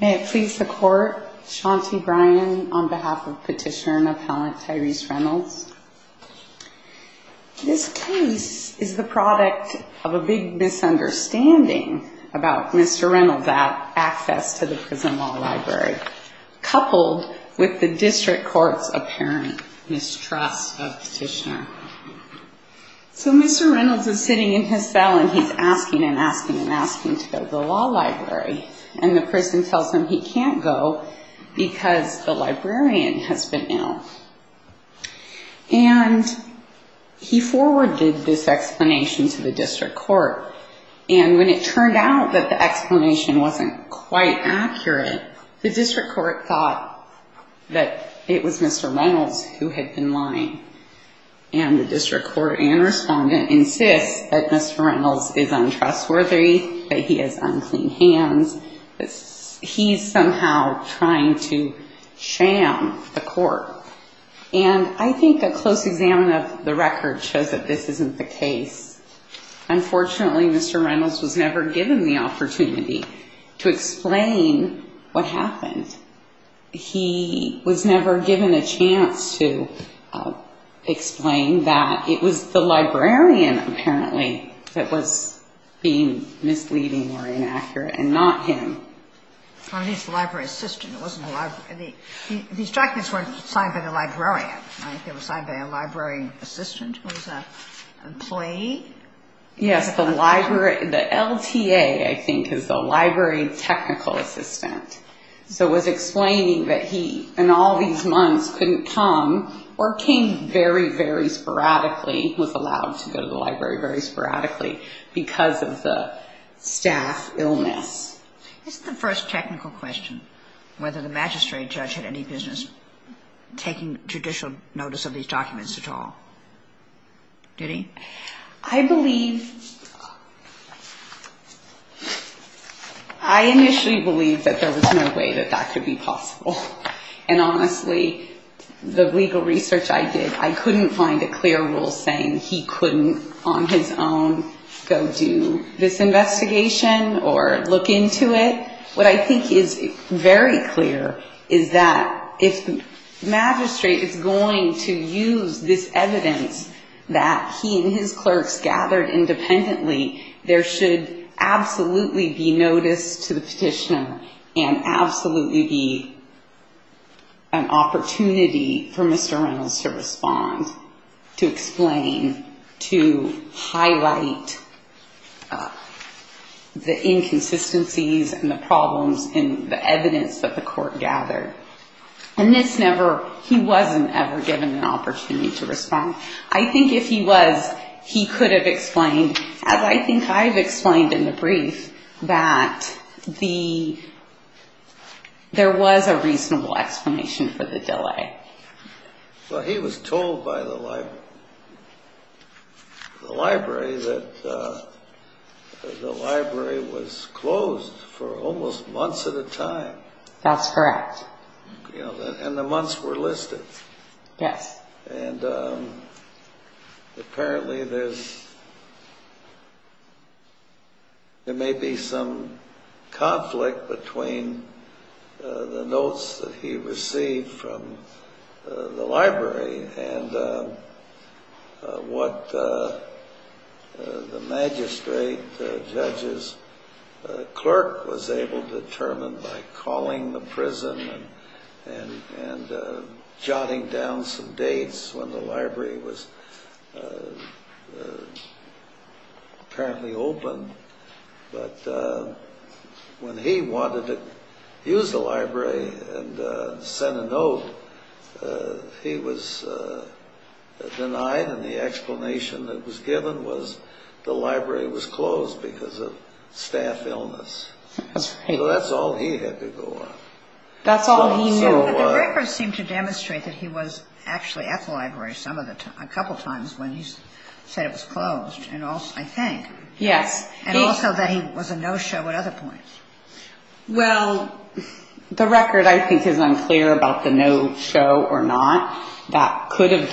May it please the Court, Shaunti Bryan on behalf of Petitioner and Appellant Tyreece Reynolds. This case is the product of a big misunderstanding about Mr. Reynolds' access to the Prison Law Library, coupled with the District Court's apparent mistrust of Petitioner. So Mr. Reynolds is sitting in his cell and he's asking and asking and asking to go to the law library, and the prison tells him he can't go because the librarian has been ill. And he forwarded this explanation to the District Court, and when it turned out that the explanation wasn't quite accurate, the District Court thought that it was Mr. Reynolds who had been lying. And the District Court and Respondent insist that Mr. Reynolds is untrustworthy, that he has unclean hands, that he's somehow trying to sham the Court. And I think a close exam of the record shows that this isn't the case. Unfortunately, Mr. Reynolds was never given the opportunity to explain what happened. He was never given a chance to explain that it was the librarian, apparently, that was being misleading or inaccurate and not him. I think it's the library assistant. These documents weren't signed by the librarian, right? They were signed by a library assistant who was an employee? Yes, the LTA, I think, is the library technical assistant. So it was explaining that he, in all these months, couldn't come or came very, very sporadically, was allowed to go to the library very sporadically because of the staff illness. This is the first technical question, whether the magistrate judge had any business taking judicial notice of these documents at all. Did he? I believe, I initially believed that there was no way that that could be possible. And honestly, the legal research I did, I couldn't find a clear rule saying he couldn't, on his own, go do this investigation or look into it. What I think is very clear is that if the magistrate is going to use this evidence that he and his clerks gathered independently, there should absolutely be notice to the petitioner and absolutely be an opportunity for Mr. Reynolds to respond, to explain, to highlight the inconsistencies and the problems in the evidence that the court gathered. And this never, he wasn't ever given an opportunity to respond. I think if he was, he could have explained, as I think I've explained in the brief, that there was a reasonable explanation for the delay. Well, he was told by the library that the library was closed for almost months at a time. That's correct. And the months were listed. Yes. And apparently there may be some conflict between the notes that he received from the library and what the magistrate, the judge's clerk, was able to determine by calling the prison and jotting down some dates when the library was apparently open. But when he wanted to use the library and send a note, he was denied and the explanation that was given was the library was closed because of staff illness. That's right. That's all he knew. But the records seem to demonstrate that he was actually at the library a couple times when he said it was closed, I think. Yes. And also that he was a no-show at other points. Well, the record I think is unclear about the no-show or not. That could have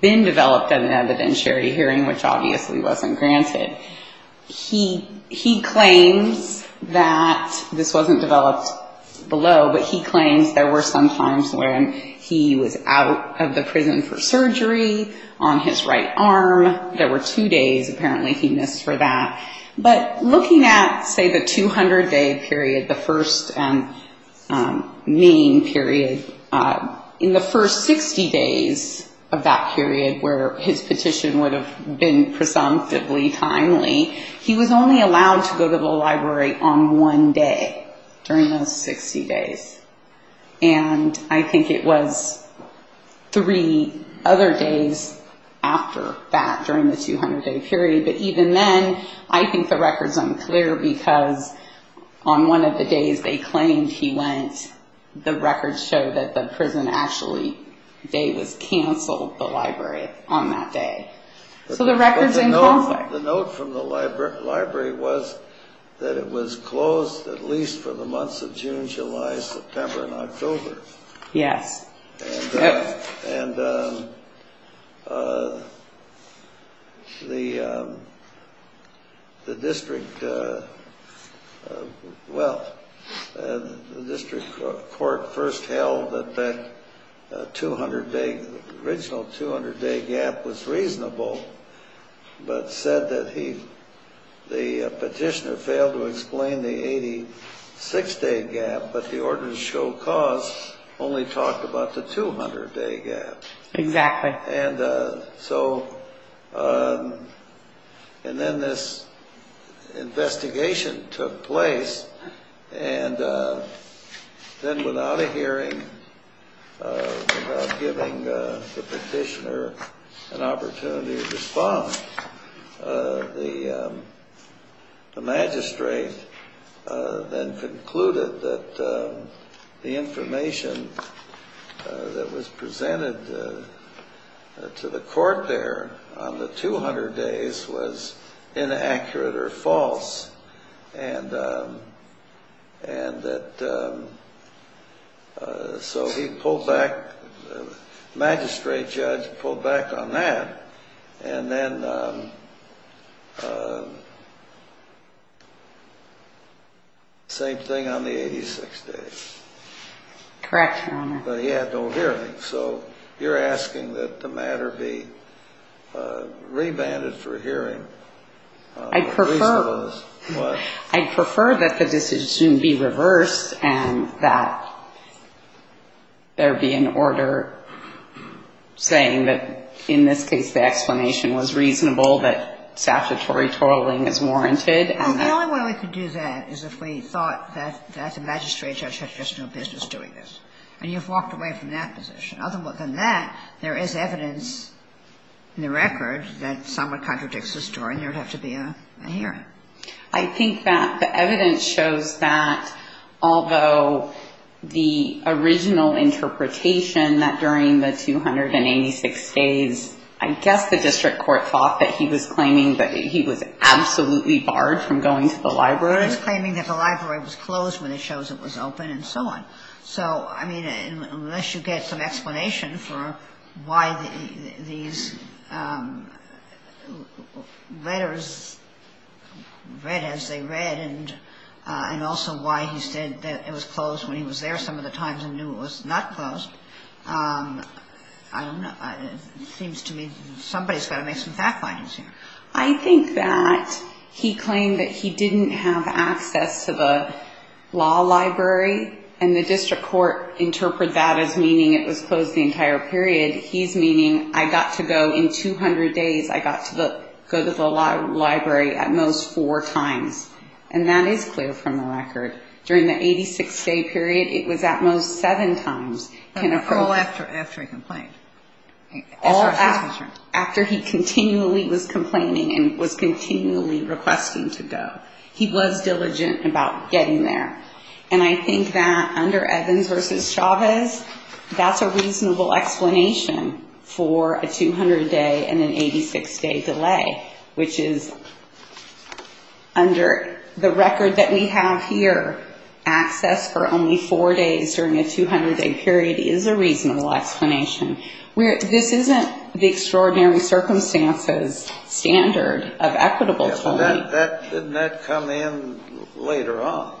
been developed in an evidentiary hearing, which obviously wasn't granted. He claims that this wasn't developed below, but he claims there were some times when he was out of the prison for surgery on his right arm. There were two days apparently he missed for that. But looking at, say, the 200-day period, the first main period, in the first 60 days of that period where his petition would have been presumptively timely, he was only allowed to go to the library on one day during those 60 days. And I think it was three other days after that during the 200-day period. But even then, I think the record's unclear because on one of the days they claimed he went, the records show that the prison actually day was canceled, the library, on that day. So the record's unclear. The note from the library was that it was closed at least for the months of June, July, September, and October. Yes. And the district court first held that that original 200-day gap was reasonable, but said that the petitioner failed to explain the 86-day gap, but the ordinance show cause only talked about the 200-day gap. Exactly. And so, and then this investigation took place, and then without a hearing, without giving the petitioner an opportunity to respond, the magistrate then concluded that the information that was presented to the court there on the 200 days was inaccurate or false, and that, so he pulled back, the magistrate judge pulled back on that, and then same thing on the 86 days. Correct, Your Honor. But he had no hearing. So you're asking that the matter be revanded for hearing. I'd prefer that the decision be reversed and that there be an order saying that, in this case, the explanation was reasonable, that statutory toiling is warranted. Well, the only way we could do that is if we thought that the magistrate judge had just no business doing this. And you've walked away from that position. Other than that, there is evidence in the record that somewhat contradicts the story, and there would have to be a hearing. I think that the evidence shows that, although the original interpretation that during the 286 days, I guess the district court thought that he was claiming that he was absolutely barred from going to the library. Well, it's claiming that the library was closed when it shows it was open and so on. So, I mean, unless you get some explanation for why these letters read as they read and also why he said that it was closed when he was there some of the times and knew it was not closed, I don't know, it seems to me somebody's got to make some fact findings here. I think that he claimed that he didn't have access to the law library, and the district court interpreted that as meaning it was closed the entire period. He's meaning I got to go in 200 days, I got to go to the library at most four times. And that is clear from the record. During the 86-day period, it was at most seven times. All after a complaint. All after he continually was complaining and was continually requesting to go. He was diligent about getting there. And I think that under Evans v. Chavez, that's a reasonable explanation for a 200-day and an 86-day delay, which is under the record that we have here, access for only four days during a 200-day period is a reasonable explanation. This isn't the extraordinary circumstances standard of equitable time. Didn't that come in later on?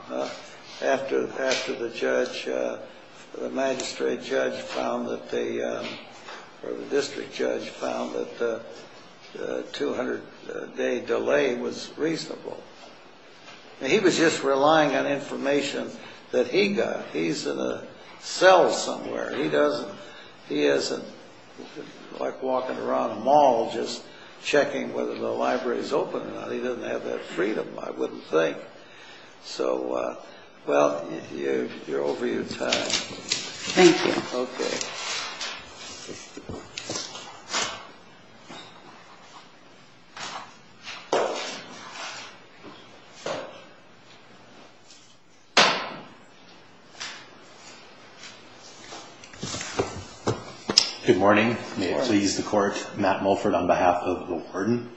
After the magistrate judge found that the district judge found that the 200-day delay was reasonable. He was just relying on information that he got. He's in a cell somewhere. He isn't like walking around a mall just checking whether the library is open or not. He doesn't have that freedom, I wouldn't think. So, well, you're over your time. Thank you. Okay. Good morning. May it please the court. Matt Mulford on behalf of the warden.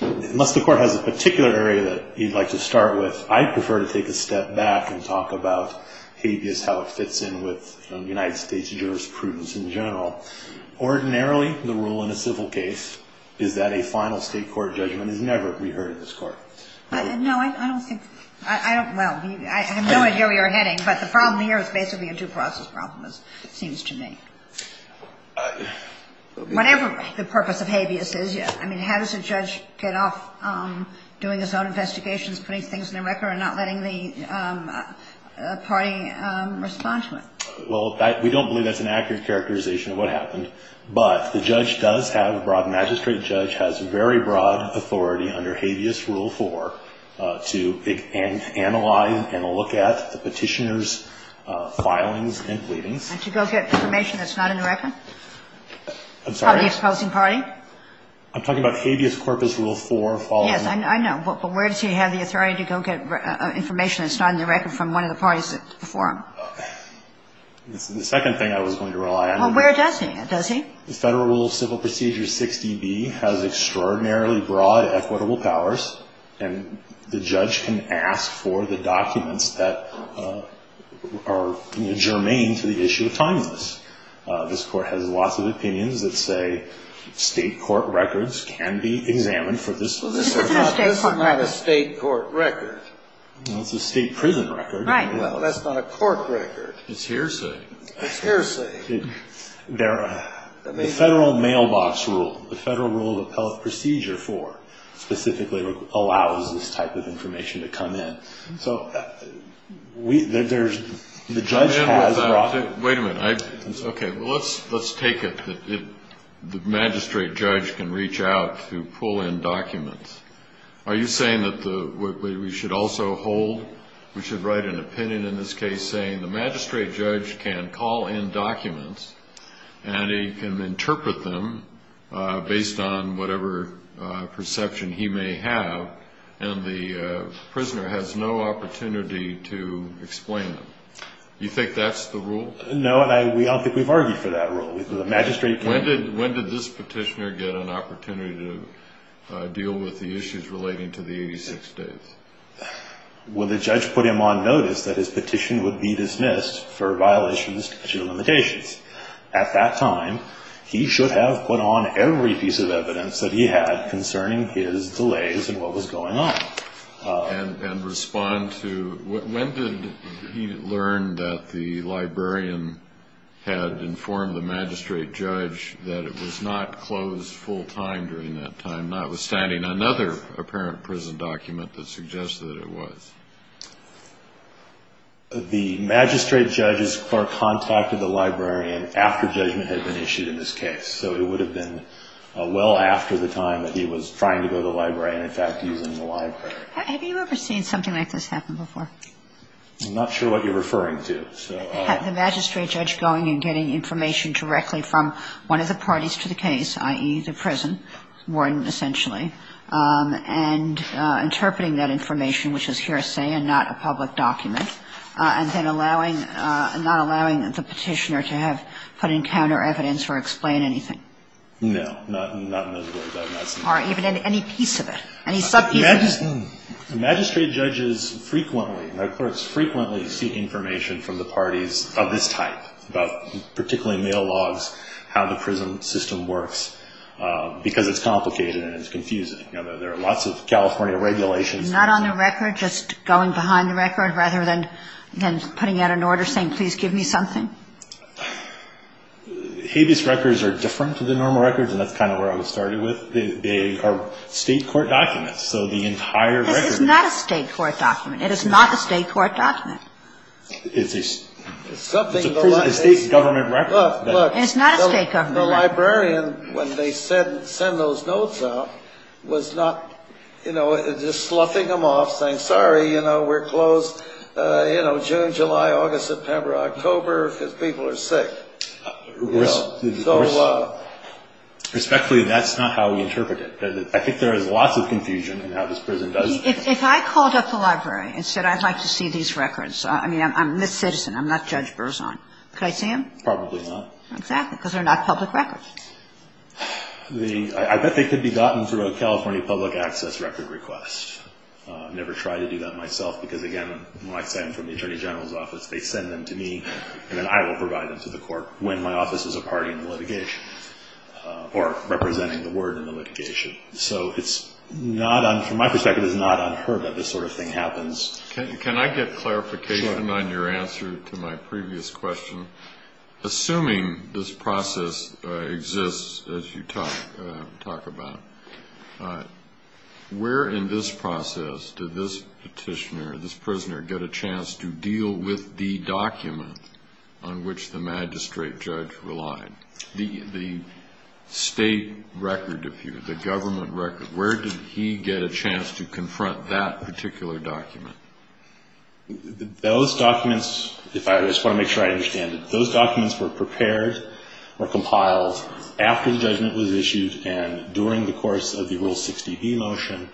Unless the court has a particular area that you'd like to start with, I'd prefer to take a step back and talk about habeas, how it fits in with United States jurisprudence in general. Ordinarily, the rule in a civil case is that a final state court judgment is never reheard in this court. No, I don't think, I don't, well, I have no idea where you're heading, but the problem here is basically a due process problem, it seems to me. Whatever the purpose of habeas is, I mean, how does a judge get off doing his own investigations, putting things on the record, and not letting the party respond to it? Well, we don't believe that's an accurate characterization of what happened. But the judge does have a broad, magistrate judge has very broad authority under habeas rule four to analyze and look at the petitioner's filings and pleadings. And to go get information that's not in the record? I'm sorry? Of the opposing party? I'm talking about habeas corpus rule four following. Yes, I know. But where does he have the authority to go get information that's not in the record from one of the parties before him? The second thing I was going to rely on. Well, where does he have it? Does he? The Federal Rule of Civil Procedure 6DB has extraordinarily broad equitable powers, and the judge can ask for the documents that are germane to the issue of timeliness. This Court has lots of opinions that say state court records can be examined for this purpose. Well, this isn't a state court record. This is not a state court record. Well, it's a state prison record. Right. Well, that's not a court record. It's hearsay. It's hearsay. The Federal Mailbox Rule, the Federal Rule of Appellate Procedure 4, specifically allows this type of information to come in. So there's the judge has broad... Wait a minute. Okay. Well, let's take it that the magistrate judge can reach out to pull in documents. Are you saying that we should also hold, we should write an opinion in this case, saying the magistrate judge can call in documents and he can interpret them based on whatever perception he may have, and the prisoner has no opportunity to explain them? Do you think that's the rule? No, and I don't think we've argued for that rule. When did this petitioner get an opportunity to deal with the issues relating to the 86 days? Well, the judge put him on notice that his petition would be dismissed for violations of the statute of limitations. At that time, he should have put on every piece of evidence that he had concerning his delays and what was going on. And respond to when did he learn that the librarian had informed the magistrate judge that it was not closed full time during that time, notwithstanding another apparent prison document that suggests that it was. The magistrate judge's contact with the librarian after judgment had been issued in this case, so it would have been well after the time that he was trying to go to the librarian, in fact, using the library. Have you ever seen something like this happen before? I'm not sure what you're referring to. Had the magistrate judge going and getting information directly from one of the parties to the case, i.e., the prison warden, essentially, and interpreting that information, which is hearsay and not a public document, and then not allowing the petitioner to have put in counter evidence or explain anything? No. Not in those words. I have not seen that. Or even any piece of it? Any sub-piece of it? The magistrate judges frequently, and their clerks frequently, seek information from the parties of this type, particularly mail logs, how the prison system works, because it's complicated and it's confusing. There are lots of California regulations. Not on the record, just going behind the record, rather than putting out an order saying, please give me something? Habeas records are different to the normal records, and that's kind of where I would start it with. They are state court documents, so the entire record is... This is not a state court document. It is not a state court document. It's a state government record. It's not a state government record. The librarian, when they send those notes out, was not, you know, just sloughing them off, saying, sorry, you know, we're closed, you know, June, July, August, September, October, because people are sick. Respectfully, that's not how we interpret it. If I called up the library and said I'd like to see these records, I mean, I'm this citizen. I'm not Judge Berzon. Could I see them? Probably not. Exactly, because they're not public records. I bet they could be gotten through a California public access record request. I've never tried to do that myself, because, again, when I send them from the Attorney General's office, they send them to me, and then I will provide them to the court when my office is a party in the litigation or representing the word in the litigation. So it's not, from my perspective, it's not unheard of that this sort of thing happens. Can I get clarification on your answer to my previous question? Assuming this process exists, as you talk about, where in this process did this petitioner, this prisoner, get a chance to deal with the document on which the magistrate judge relied, the state record, if you will, the government record? Where did he get a chance to confront that particular document? Those documents, if I just want to make sure I understand it, those documents were prepared or compiled after the judgment was issued and during the course of the Rule 60B motion.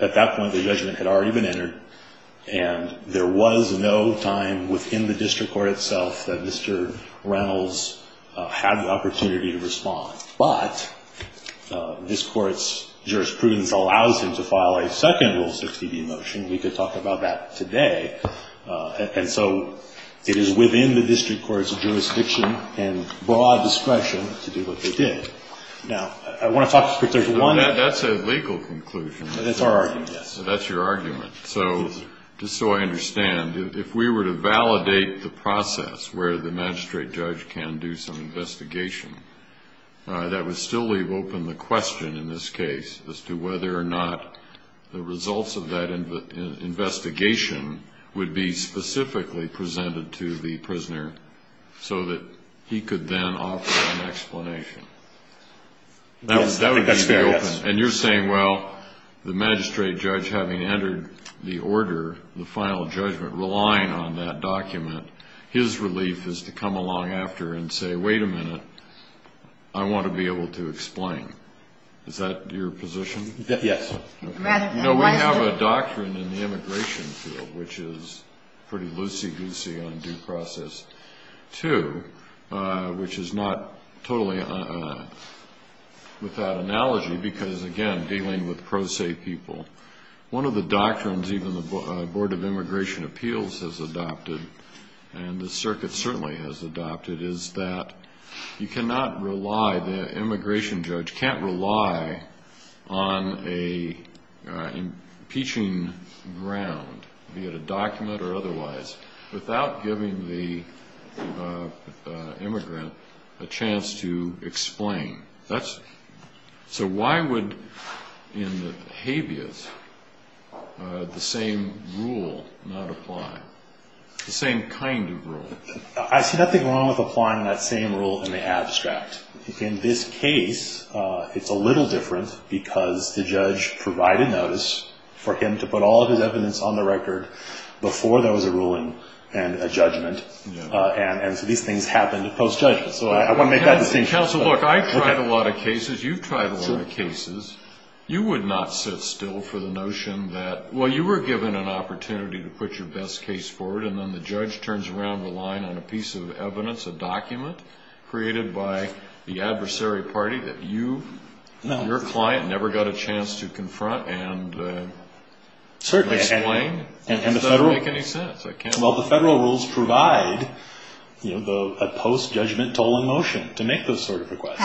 At that point, the judgment had already been entered, and there was no time within the district court itself that Mr. Reynolds had the opportunity to respond. But this Court's jurisprudence allows him to file a second Rule 60B motion. We could talk about that today. And so it is within the district court's jurisdiction and broad discretion to do what they did. Now, I want to talk specifically about one thing. That's a legal conclusion. That's our argument, yes. That's your argument. Just so I understand, if we were to validate the process where the magistrate judge can do some investigation, that would still leave open the question in this case as to whether or not the results of that investigation would be specifically presented to the prisoner so that he could then offer an explanation. I think that's fair, yes. And you're saying, well, the magistrate judge having entered the order, the final judgment, relying on that document, his relief is to come along after and say, wait a minute, I want to be able to explain. Is that your position? Yes. No, we have a doctrine in the immigration field which is pretty loosey-goosey on due process, too, which is not totally without analogy because, again, dealing with pro se people. One of the doctrines even the Board of Immigration Appeals has adopted and the circuit certainly has adopted is that you cannot rely, the immigration judge can't rely on an impeaching ground, be it a document or otherwise, without giving the immigrant a chance to explain. So why would in the habeas the same rule not apply, the same kind of rule? I see nothing wrong with applying that same rule in the abstract. In this case, it's a little different because the judge provided notice for him to put all of his evidence on the record before there was a ruling and a judgment, and so these things happen post-judgment. So I want to make that distinction. Counsel, look, I've tried a lot of cases. You've tried a lot of cases. You would not sit still for the notion that, well, you were given an opportunity to put your best case forward and then the judge turns around the line on a piece of evidence, a document created by the adversary party that you, your client, never got a chance to confront and explain. And the Federal rules provide a post-judgment tolling motion to make those sort of requests.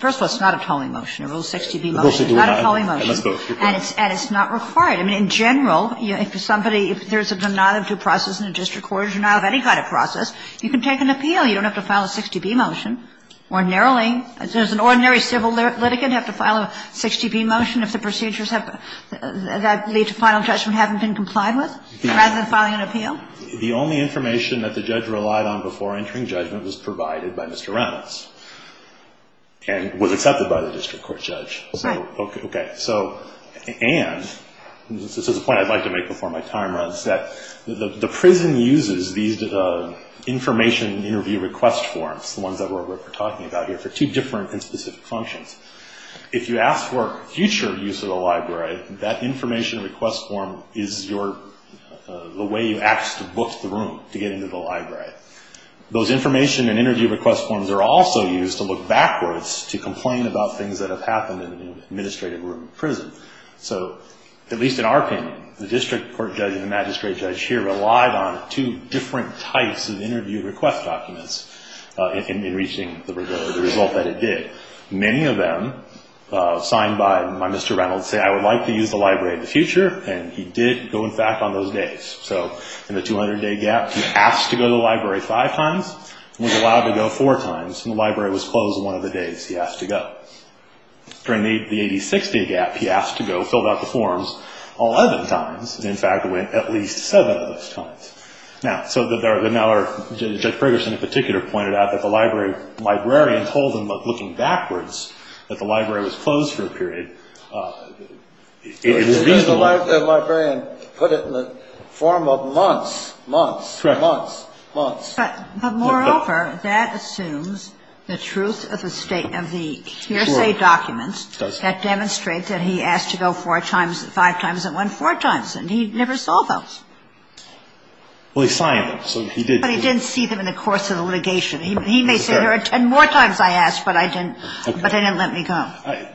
First of all, it's not a tolling motion. A Rule 60b motion is not a tolling motion. And it's not required. I mean, in general, if somebody, if there's a denial of due process in a district court, a denial of any kind of process, you can take an appeal. You don't have to file a 60b motion. Ordinarily, does an ordinary civil litigant have to file a 60b motion if the procedures that lead to final judgment haven't been complied with, rather than filing an appeal? The only information that the judge relied on before entering judgment was provided by Mr. Reynolds and was accepted by the district court judge. Right. Okay. So, and, this is a point I'd like to make before my time runs, that the prison uses these information interview request forms, the ones that we're talking about here, for two different and specific functions. If you ask for future use of the library, that information request form is your, the way you ask to book the room to get into the library. Those information and interview request forms are also used to look backwards to complain about things that have happened in an administrative room in prison. So, at least in our opinion, the district court judge and the magistrate judge here relied on two different types of interview request documents. In reaching the result that it did. Many of them signed by Mr. Reynolds said, I would like to use the library in the future, and he did go in fact on those days. So, in the 200 day gap, he asked to go to the library five times, was allowed to go four times, and the library was closed one of the days he asked to go. During the 86 day gap, he asked to go, filled out the forms 11 times, and in fact went at least seven of those times. Now, so there are, Judge Ferguson in particular pointed out that the librarian told him that looking backwards, that the library was closed for a period. It would be reasonable. The librarian put it in the form of months, months, months, months. But moreover, that assumes the truth of the state, of the hearsay documents that demonstrate that he asked to go four times, five times, and went four times, and he never saw those. Well, he signed them, so he did. But he didn't see them in the course of the litigation. He may say, there are ten more times I asked, but I didn't, but they didn't let me go.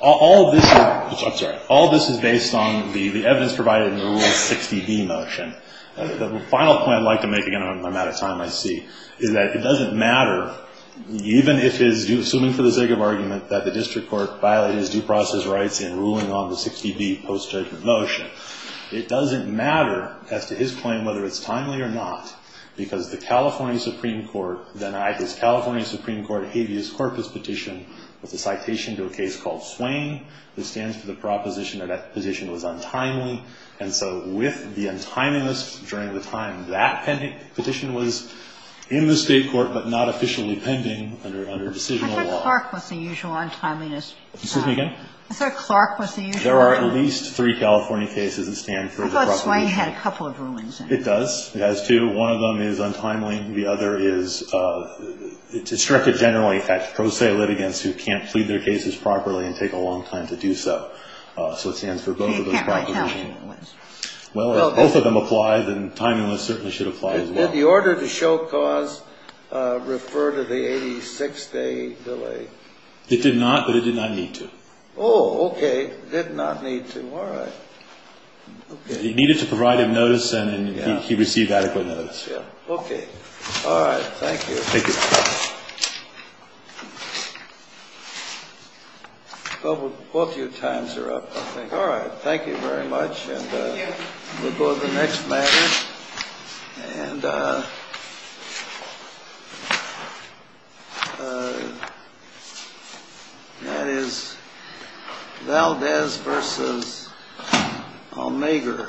All of this, I'm sorry, all of this is based on the evidence provided in the Rule 60B motion. The final point I'd like to make, again, I'm out of time, I see, is that it doesn't matter, even if it is, assuming for the sake of argument, that the district court violated his due process rights in ruling on the 60B post-judgment motion. It doesn't matter as to his claim whether it's timely or not, because the California Supreme Court denied his California Supreme Court habeas corpus petition with a citation to a case called Swain, which stands for the proposition that that petition was untimely, and so with the untimeliness during the time that petition was in the state court but not officially pending under decisional law. Sotomayor, I thought Clark was the usual untimeliness. Excuse me again? I thought Clark was the usual untimeliness. There are at least three California cases that stand for the proposition. I thought Swain had a couple of rulings in it. It does. It has two. One of them is untimely. The other is, it's directed generally at pro se litigants who can't plead their cases properly and take a long time to do so. So it stands for both of those propositions. But you can't write timeliness. Well, if both of them apply, then timeliness certainly should apply as well. Did the order to show cause refer to the 86-day delay? It did not, but it did not need to. Oh, okay. It did not need to. All right. It needed to provide him notice, and he received adequate notice. Okay. All right. Thank you. Thank you. Both of your times are up, I think. All right. Thank you very much, and we'll go to the next matter. And that is Valdez versus Omega.